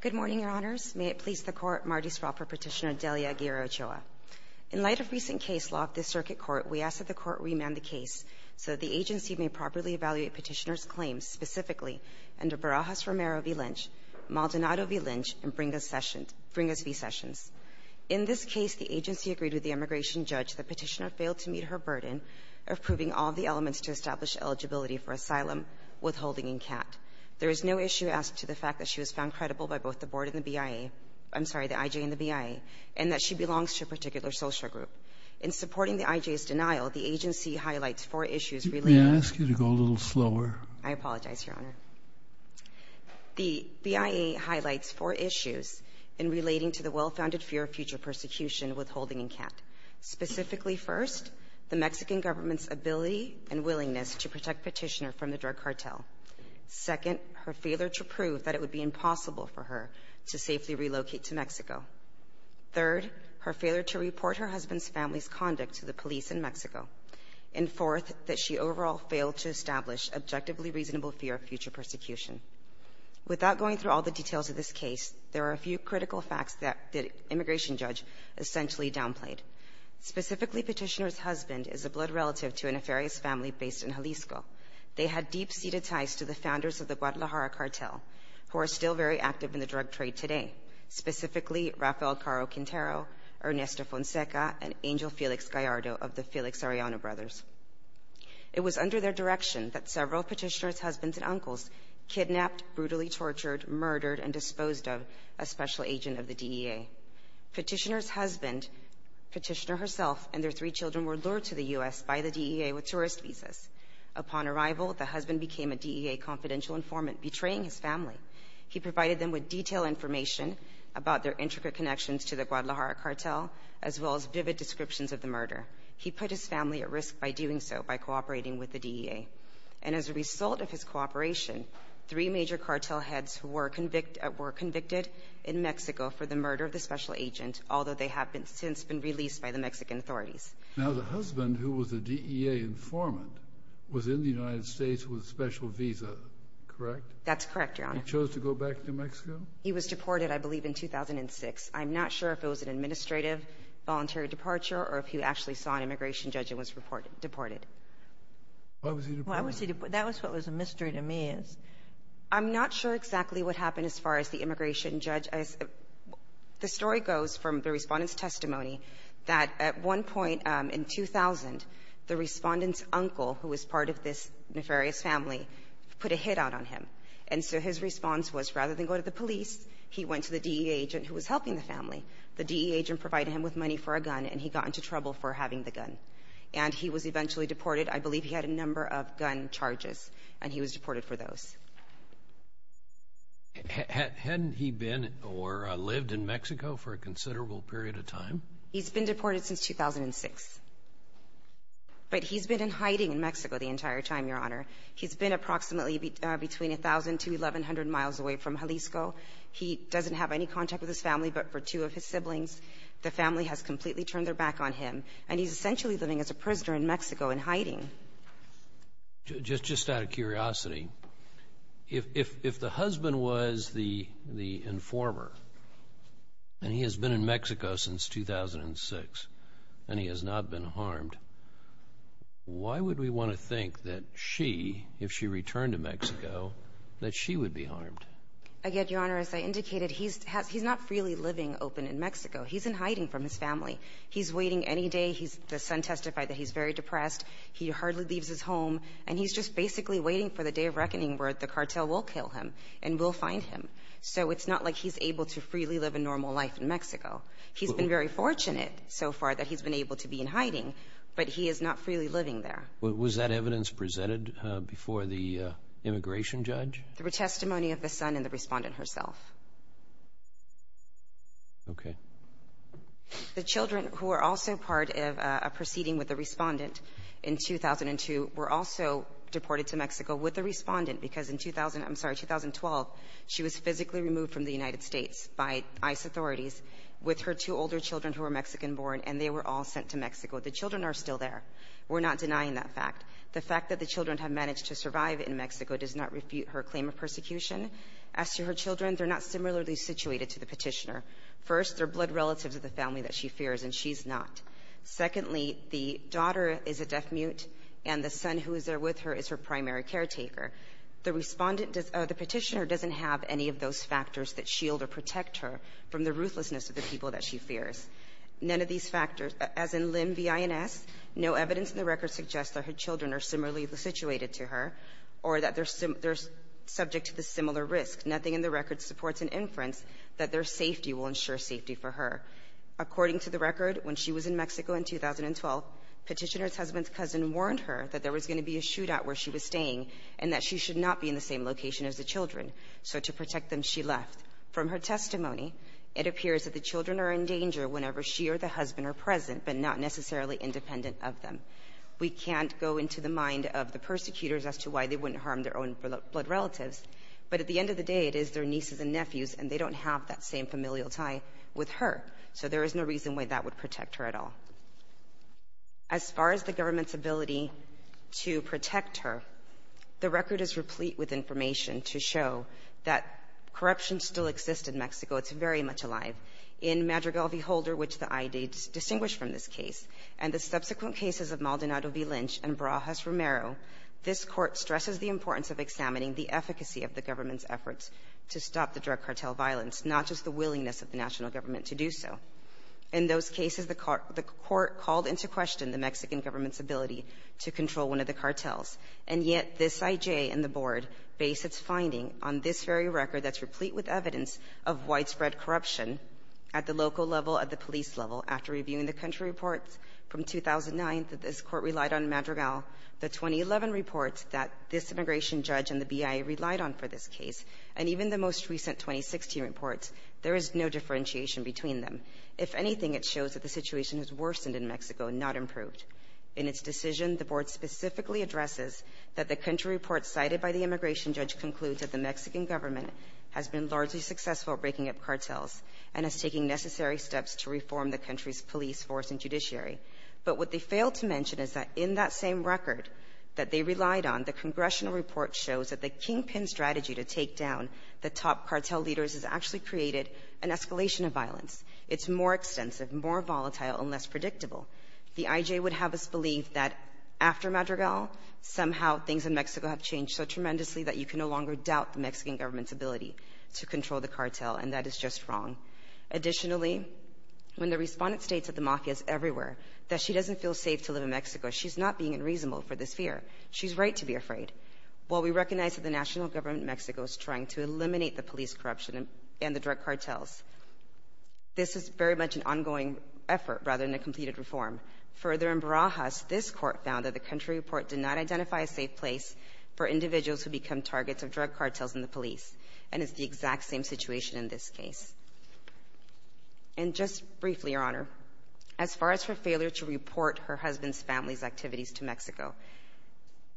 Good morning, Your Honors. May it please the Court, Marty Spraw for Petitioner Delia Aguirre Ochoa. In light of recent case law of this Circuit Court, we ask that the Court remand the case so that the agency may properly evaluate Petitioner's claims, specifically under Barajas-Romero v. Lynch, Maldonado v. Lynch, and Bringas v. Sessions. In this case, the agency agreed with the immigration judge that Petitioner failed to meet her burden of proving all of the elements to establish eligibility for asylum, withholding, and CAT. There is no issue asked to the fact that she was found credible by both the board and the BIA— I'm sorry, the IJ and the BIA—and that she belongs to a particular social group. In supporting the IJ's denial, the agency highlights four issues relating to— May I ask you to go a little slower? I apologize, Your Honor. The BIA highlights four issues in relating to the well-founded fear of future persecution, withholding, and CAT. Specifically, first, the Mexican government's ability and willingness to protect Petitioner from the drug cartel. Second, her failure to prove that it would be impossible for her to safely relocate to Mexico. Third, her failure to report her husband's family's conduct to the police in Mexico. And fourth, that she overall failed to establish objectively reasonable fear of future persecution. Without going through all the details of this case, there are a few critical facts that the immigration judge essentially downplayed. Specifically, Petitioner's husband is a blood relative to a nefarious family based in Jalisco. They had deep-seated ties to the founders of the Guadalajara cartel, who are still very active in the drug trade today. Specifically, Rafael Caro Quintero, Ernesto Fonseca, and Angel Felix Gallardo of the Felix Arellano brothers. It was under their direction that several of Petitioner's husbands and uncles kidnapped, brutally tortured, murdered, and disposed of a special agent of the DEA. Petitioner's husband, Petitioner herself, and their three children were lured to the U.S. by the DEA with tourist visas. Upon arrival, the husband became a DEA confidential informant, betraying his family. He provided them with detailed information about their intricate connections to the Guadalajara cartel, as well as vivid descriptions of the murder. He put his family at risk by doing so, by cooperating with the DEA. And as a result of his cooperation, three major cartel heads were convicted in Mexico for the murder of the special agent, although they have since been released by the Mexican authorities. Now, the husband, who was a DEA informant, was in the United States with a special visa, correct? That's correct, Your Honor. He chose to go back to Mexico? He was deported, I believe, in 2006. I'm not sure if it was an administrative voluntary departure or if he actually saw an immigration judge and was deported. Why was he deported? Well, I would say that was what was a mystery to me, is I'm not sure exactly what happened as far as the immigration judge. The story goes from the Respondent's uncle, who was part of this nefarious family, put a hit out on him. And so his response was, rather than go to the police, he went to the DEA agent who was helping the family. The DEA agent provided him with money for a gun, and he got into trouble for having the gun. And he was eventually deported. I believe he had a number of gun charges, and he was deported for those. Hadn't he been or lived in Mexico for a considerable period of time? He's been deported since 2006. But he's been in hiding in Mexico the entire time, Your Honor. He's been approximately between 1,000 to 1,100 miles away from Jalisco. He doesn't have any contact with his family, but for two of his siblings, the family has completely turned their back on him. And he's essentially living as a prisoner in Mexico in hiding. Just out of curiosity, if the husband was the informer, and he has been in Mexico since 2006, and he has not been harmed, why would we want to think that she, if she returned to Mexico, that she would be harmed? Again, Your Honor, as I indicated, he's not freely living open in Mexico. He's in hiding from his family. He's waiting any day. The son testified that he's very depressed. He hardly leaves his home. And he's just basically waiting for the day of reckoning where the cartel will kill him and will find him. So it's not like he's able to freely live a normal life in Mexico. He's been very fortunate so far that he's been able to be in hiding, but he is not freely living there. Was that evidence presented before the immigration judge? Through testimony of the son and the Respondent herself. Okay. The children who were also part of a proceeding with the Respondent in 2002 were also deported to Mexico with the Respondent because in 2000 — I'm sorry, 2012, she was physically removed from the United States by ICE authorities with her two older children who were Mexican-born, and they were all sent to Mexico. The children are still there. We're not denying that fact. The fact that the children have managed to survive in Mexico does not refute her claim of persecution. As to her children, they're not similarly situated to the Petitioner. First, they're blood relatives of the family that she fears, and she's not. Secondly, the daughter is a deaf-mute, and the son who is there with her is her primary caretaker. The Respondent does — does not deny any of those factors that shield or protect her from the ruthlessness of the people that she fears. None of these factors — as in Lim, B.I.N.S., no evidence in the record suggests that her children are similarly situated to her or that they're — they're subject to the similar risk. Nothing in the record supports an inference that their safety will ensure safety for her. According to the record, when she was in Mexico in 2012, Petitioner's husband's cousin warned her that there was going to be a shootout where she was staying and that she should not be in the same location as the children. So to protect them, she left. From her testimony, it appears that the children are in danger whenever she or the husband are present, but not necessarily independent of them. We can't go into the mind of the persecutors as to why they wouldn't harm their own blood relatives, but at the end of the day, it is their nieces and nephews, and they don't have that same familial tie with her. So there is no reason why that would protect her at all. As far as the government's ability to protect her, the record is replete with inferences and information to show that corruption still exists in Mexico. It's very much alive. In Madrigal v. Holder, which the IJ distinguished from this case, and the subsequent cases of Maldonado v. Lynch and Barajas v. Romero, this Court stresses the importance of examining the efficacy of the government's efforts to stop the drug cartel violence, not just the willingness of the national government to do so. In those cases, the court called into question the Mexican government's ability to control one of the cartels. And yet this IJ and the Board base its finding on this very record that's replete with evidence of widespread corruption at the local level, at the police level. After reviewing the country reports from 2009 that this Court relied on in Madrigal, the 2011 reports that this immigration judge and the BIA relied on for this case, and even the most recent 2016 reports, there is no differentiation between them. If anything, it shows that the situation has worsened in Mexico, not improved. In its decision, the Board specifically addresses that the country report cited by the immigration judge concludes that the Mexican government has been largely successful at breaking up cartels and is taking necessary steps to reform the country's police force and judiciary. But what they fail to mention is that in that same record that they relied on, the congressional report shows that the kingpin strategy to take down the top cartel leaders has actually created an escalation of violence. It's more extensive, more volatile, and less predictable. The IJ would have us believe that after Madrigal, somehow things in Mexico have changed so tremendously that you can no longer control the cartel, and that is just wrong. Additionally, when the respondent states that the mafia is everywhere, that she doesn't feel safe to live in Mexico, she's not being unreasonable for this fear. She's right to be afraid. While we recognize that the national government in Mexico is trying to eliminate the police corruption and the drug cartels, this is very much an ongoing effort, rather than a completed reform. Further, in Barajas, this Court found that the country report did not address the situation in this case. And just briefly, Your Honor, as far as her failure to report her husband's family's activities to Mexico,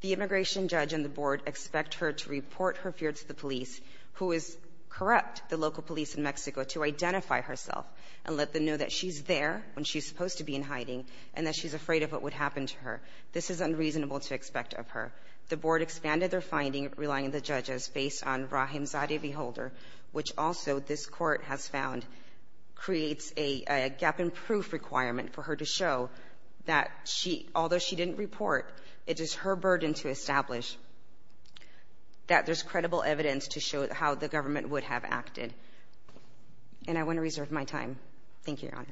the immigration judge and the board expect her to report her fear to the police, who is corrupt, the local police in Mexico, to identify herself and let them know that she's there when she's supposed to be in hiding and that she's afraid of what would happen to her. This is unreasonable to expect of her. The board expanded their finding, relying on the judges, based on Rahim Zadeh v. Holder, which also this Court has found creates a gap-in-proof requirement for her to show that she, although she didn't report, it is her burden to establish that there's credible evidence to show how the government would have acted. And I want to reserve my time. Thank you, Your Honor.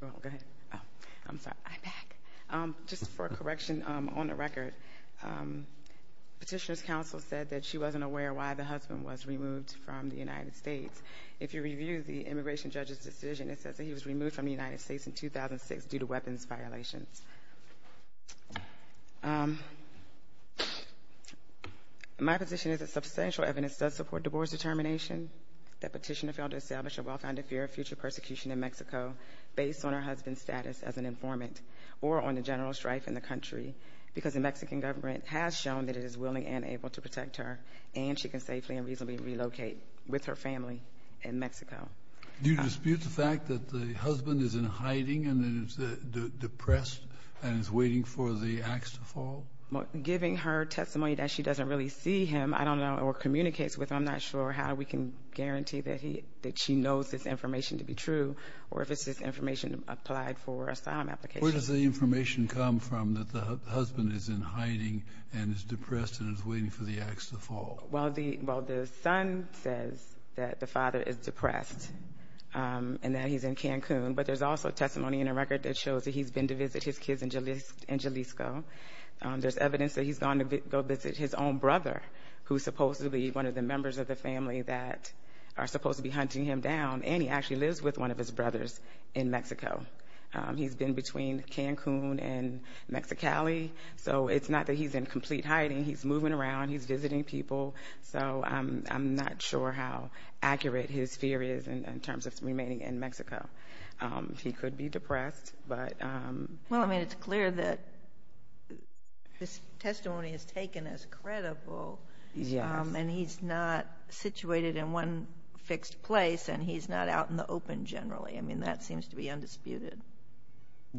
Well, go ahead. I'm sorry. I'm back. Just for correction, on the record, Petitioner's not aware why the husband was removed from the United States. If you review the immigration judge's decision, it says that he was removed from the United States in 2006 due to weapons violations. My position is that substantial evidence does support the board's determination that Petitioner failed to establish a well-founded fear of future persecution in Mexico, based on her husband's status as an informant or on the general strife in the country, because the Mexican government has shown that it is willing and able to protect her, and she can safely and reasonably relocate with her family in Mexico. Do you dispute the fact that the husband is in hiding and is depressed and is waiting for the axe to fall? Well, giving her testimony that she doesn't really see him, I don't know, or communicates with him, I'm not sure how we can guarantee that he — that she knows this information to be true, or if it's just information applied for asylum applications. Where does the information come from that the husband is in hiding and is depressed and is waiting for the axe to fall? Well, the son says that the father is depressed and that he's in Cancun, but there's also testimony in a record that shows that he's been to visit his kids in Jalisco. There's evidence that he's gone to go visit his own brother, who's supposedly one of the members of the family that are supposed to be hunting him down, and he actually lives with one of his brothers in Mexico. He's been between Cancun and Mexicali, so it's not that he's in complete hiding. He's moving around. He's visiting people. So I'm not sure how accurate his fear is in terms of remaining in Mexico. He could be depressed, but — Well, I mean, it's clear that this testimony is taken as credible. Yes. And he's not situated in one fixed place, and he's not out in the open generally. I mean, that seems to be undisputed.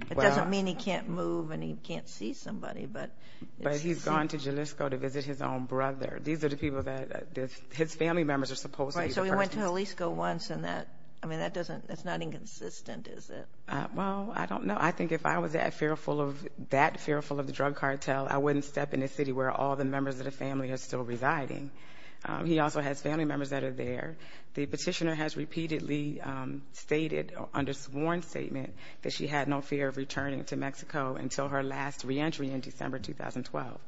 It doesn't mean he can't move and he can't see somebody, but — But he's gone to Jalisco to visit his own brother. These are the people that — his family members are supposed to be the persons — Right, so he went to Jalisco once, and that — I mean, that doesn't — that's not inconsistent, is it? Well, I don't know. I think if I was that fearful of the drug cartel, I wouldn't step in a city where all the members of the family are still residing. He also has family members that are there. The petitioner has repeatedly stated under sworn statement that she had no fear of returning to Mexico until her last reentry in December 2012.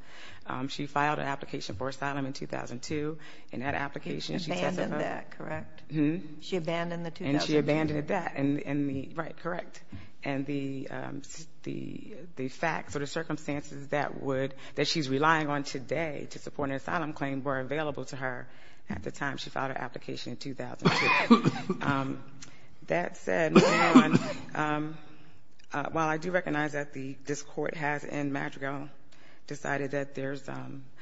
She filed an application for asylum in 2002, and that application — She abandoned that, correct? Mm-hmm. She abandoned the 2002 — And she abandoned that, and the — right, correct. And the facts or the circumstances that would — that she's relying on today to support an asylum claim were available to her at the time she filed her application in 2002. That said, moving on, while I do recognize that this Court has in Madrigal decided that there's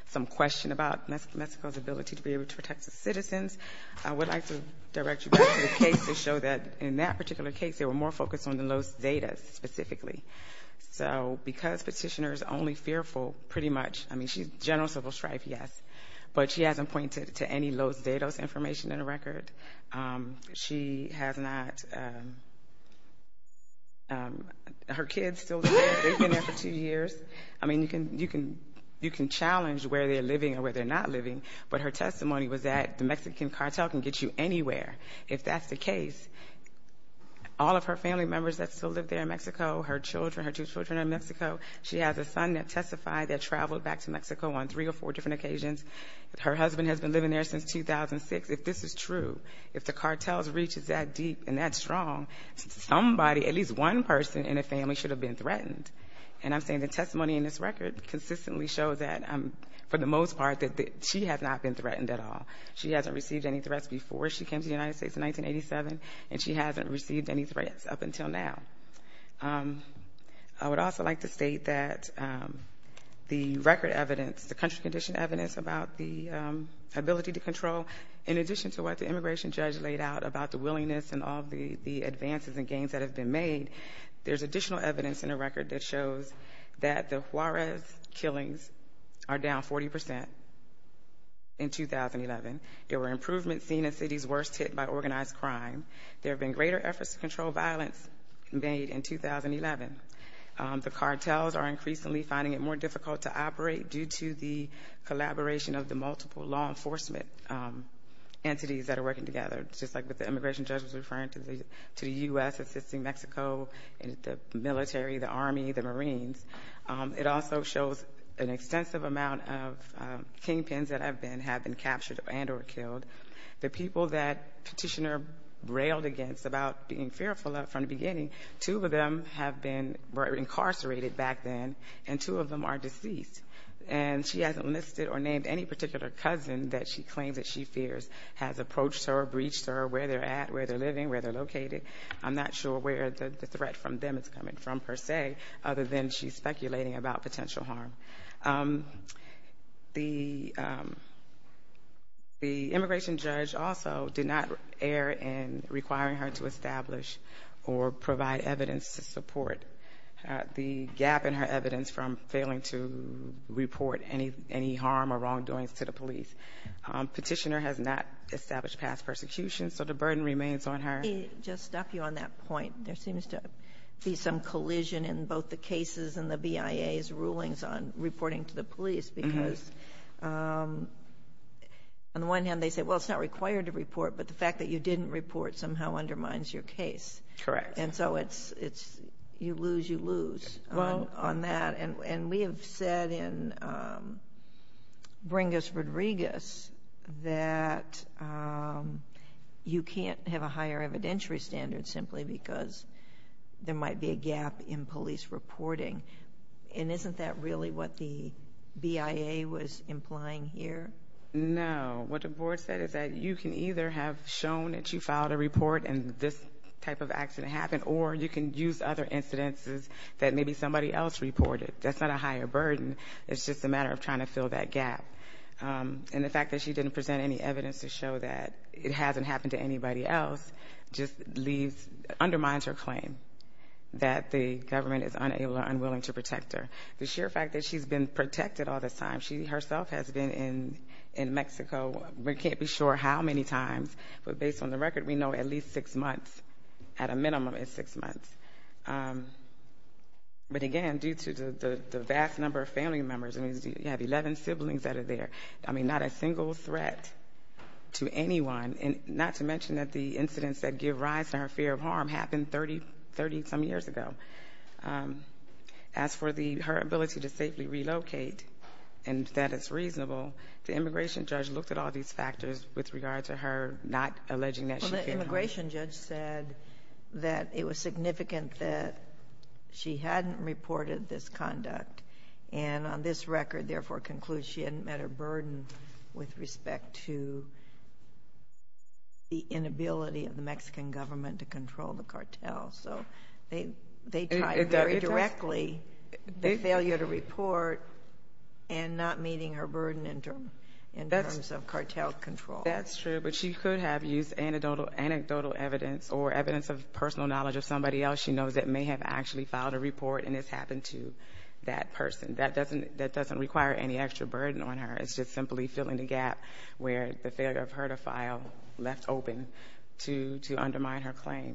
some question about Mexico's ability to be able to protect its citizens, I would like to direct you back to the case to show that in that particular case, they were more fearful, pretty much. I mean, she's general civil strife, yes, but she hasn't pointed to any Los Datos information in the record. She has not — her kids still live there. They've been there for two years. I mean, you can challenge where they're living or where they're not living, but her testimony was that the Mexican cartel can get you anywhere if that's the case. All of her family members that still live there in Mexico, her children, her two children in Mexico, she has a son that testified that traveled back to Mexico on three or four different occasions. Her husband has been living there since 2006. If this is true, if the cartel's reach is that deep and that strong, somebody, at least one person in the family should have been threatened. And I'm saying the testimony in this record consistently shows that, for the most part, that she has not been threatened at all. She hasn't received any threats before she came to the United States in 1987, and she hasn't received any threats up until now. I would also like to state that the record evidence, the country-conditioned evidence about the ability to control, in addition to what the immigration judge laid out about the willingness and all of the advances and gains that have been made, there's additional evidence in the record that shows that the Juarez killings are down 40 percent in 2011. There were improvements seen in cities worst hit by organized crime. There have been greater efforts to control violence made in 2011. The cartels are increasingly finding it more difficult to operate due to the collaboration of the multiple law enforcement entities that are working together, just like what the immigration judge was referring to, the U.S. assisting Mexico, the military, the Army, the Marines. It also shows an extensive amount of kingpins that have been captured and or killed. The people that Petitioner railed against about being fearful of from the beginning, two of them have been incarcerated back then, and two of them are deceased. And she hasn't listed or named any particular cousin that she claims that she fears has approached her, breached her, where they're at, where they're living, where they're located. I'm not sure where the threat from them is coming from, per se, other than she's speculating about potential harm. The immigration judge also did not err in requiring her to establish or provide evidence to support the gap in her evidence from failing to report any harm or wrongdoings to the police. Petitioner has not established past persecutions, so the burden remains on her. Let me just stop you on that point. There seems to be some collision in both the cases and the BIA's rulings on reporting to the police, because on the one hand, they say, well, it's not required to report, but the fact that you didn't report somehow undermines your case. Correct. And so it's you lose, you lose on that. And we have said in Bringus that you can't have a higher evidentiary standard simply because there might be a gap in police reporting. And isn't that really what the BIA was implying here? No. What the board said is that you can either have shown that you filed a report and this type of accident happened, or you can use other incidences that maybe somebody else reported. That's not a higher burden. It's just a matter of trying to fill that gap. And the fact that she didn't present any evidence to show that it hasn't happened to anybody else just undermines her claim that the government is unable or unwilling to protect her. The sheer fact that she's been protected all this time, she herself has been in Mexico, we can't be sure how many times, but based on the record, we know at least six months, at a minimum at six months. But again, due to the vast number of family members, you have 11 siblings that are there, not a single threat to anyone, not to mention that the incidents that give rise to her fear of harm happened 30 some years ago. As for her ability to safely relocate and that it's reasonable, the immigration judge looked at all these factors with regard to her not alleging that she feared harm. Well, the immigration judge said that it was significant that she hadn't reported this conduct, and on this record, therefore, concludes she hadn't met her burden with respect to the inability of the Mexican government to control the cartel. So they tied very directly the failure to report and not meeting her burden, but she could have used anecdotal evidence or evidence of personal knowledge of somebody else she knows that may have actually filed a report and this happened to that person. That doesn't require any extra burden on her. It's just simply filling the gap where the failure of her to file left open to undermine her claim.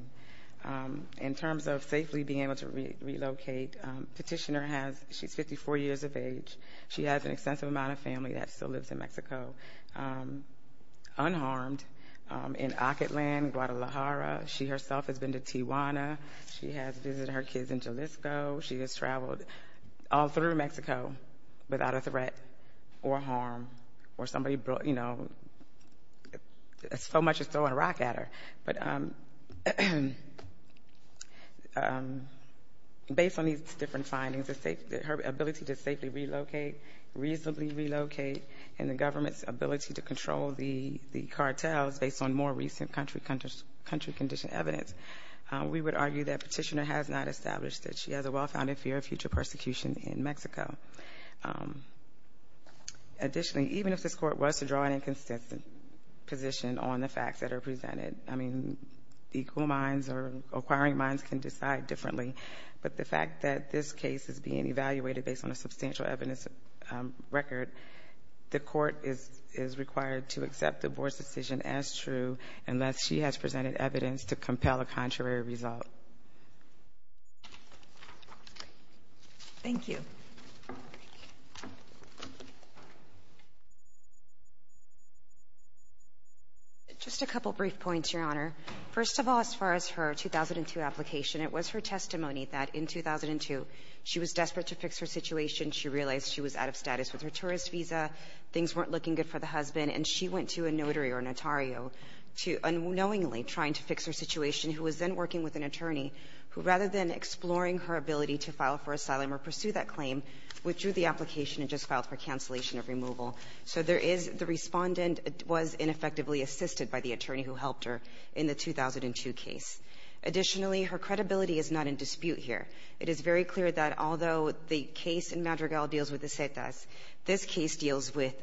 In terms of safely being able to relocate, Petitioner has, she's 54 years of age, she has an extensive amount of family that still lives in Mexico unharmed in Ocketland, Guadalajara. She herself has been to Tijuana. She has visited her kids in Jalisco. She has traveled all through Mexico without a threat or harm or somebody, you know, so much as throwing a rock at her. But based on these facts that are presented, I mean, equal minds or inquiring minds can decide differently. But the fact that this case is being evaluated based on a substantial evidence record the Court is required to accept the Board's decision as true unless she has presented evidence to compel a contrary result. Thank you. Just a couple brief points, Your Honor. First of all, as far as her 2002 application, it was her testimony that in 2002 she was desperate to fix her situation. She realized she was out of status with her tourist visa, things weren't looking good for the husband, and she went to a notary or notario unknowingly trying to fix her situation, who was then working with an attorney who, rather than exploring her ability to file for asylum or pursue that claim, withdrew the application and just filed for cancellation of removal. So there is the Respondent was ineffectively assisted by the attorney who helped her in the 2002 case. Additionally, her credibility is not in dispute here. It is very clear that although the case in Madrigal deals with the Cetas, this case deals with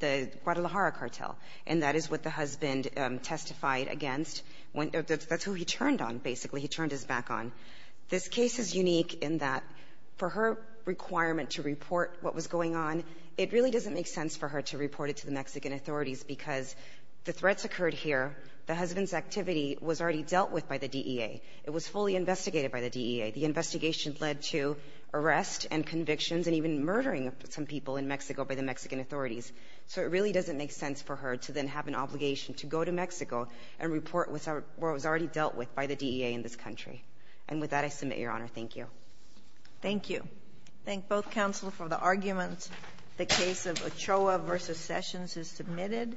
the Guadalajara cartel, and that is what the husband testified against. That's who he turned on, basically. He turned his back on. This case is unique in that for her requirement to report what was going on, it really doesn't make sense for her to report it to the Mexican authorities because the threats occurred here, the husband's activity was already investigated by the DEA. The investigation led to arrests and convictions and even murdering of some people in Mexico by the Mexican authorities. So it really doesn't make sense for her to then have an obligation to go to Mexico and report what was already dealt with by the DEA in this country. And with that, I submit, Your Honor. Thank you. Thank you. I thank both counsel for the argument. The case of Ochoa v. Sessions is submitted.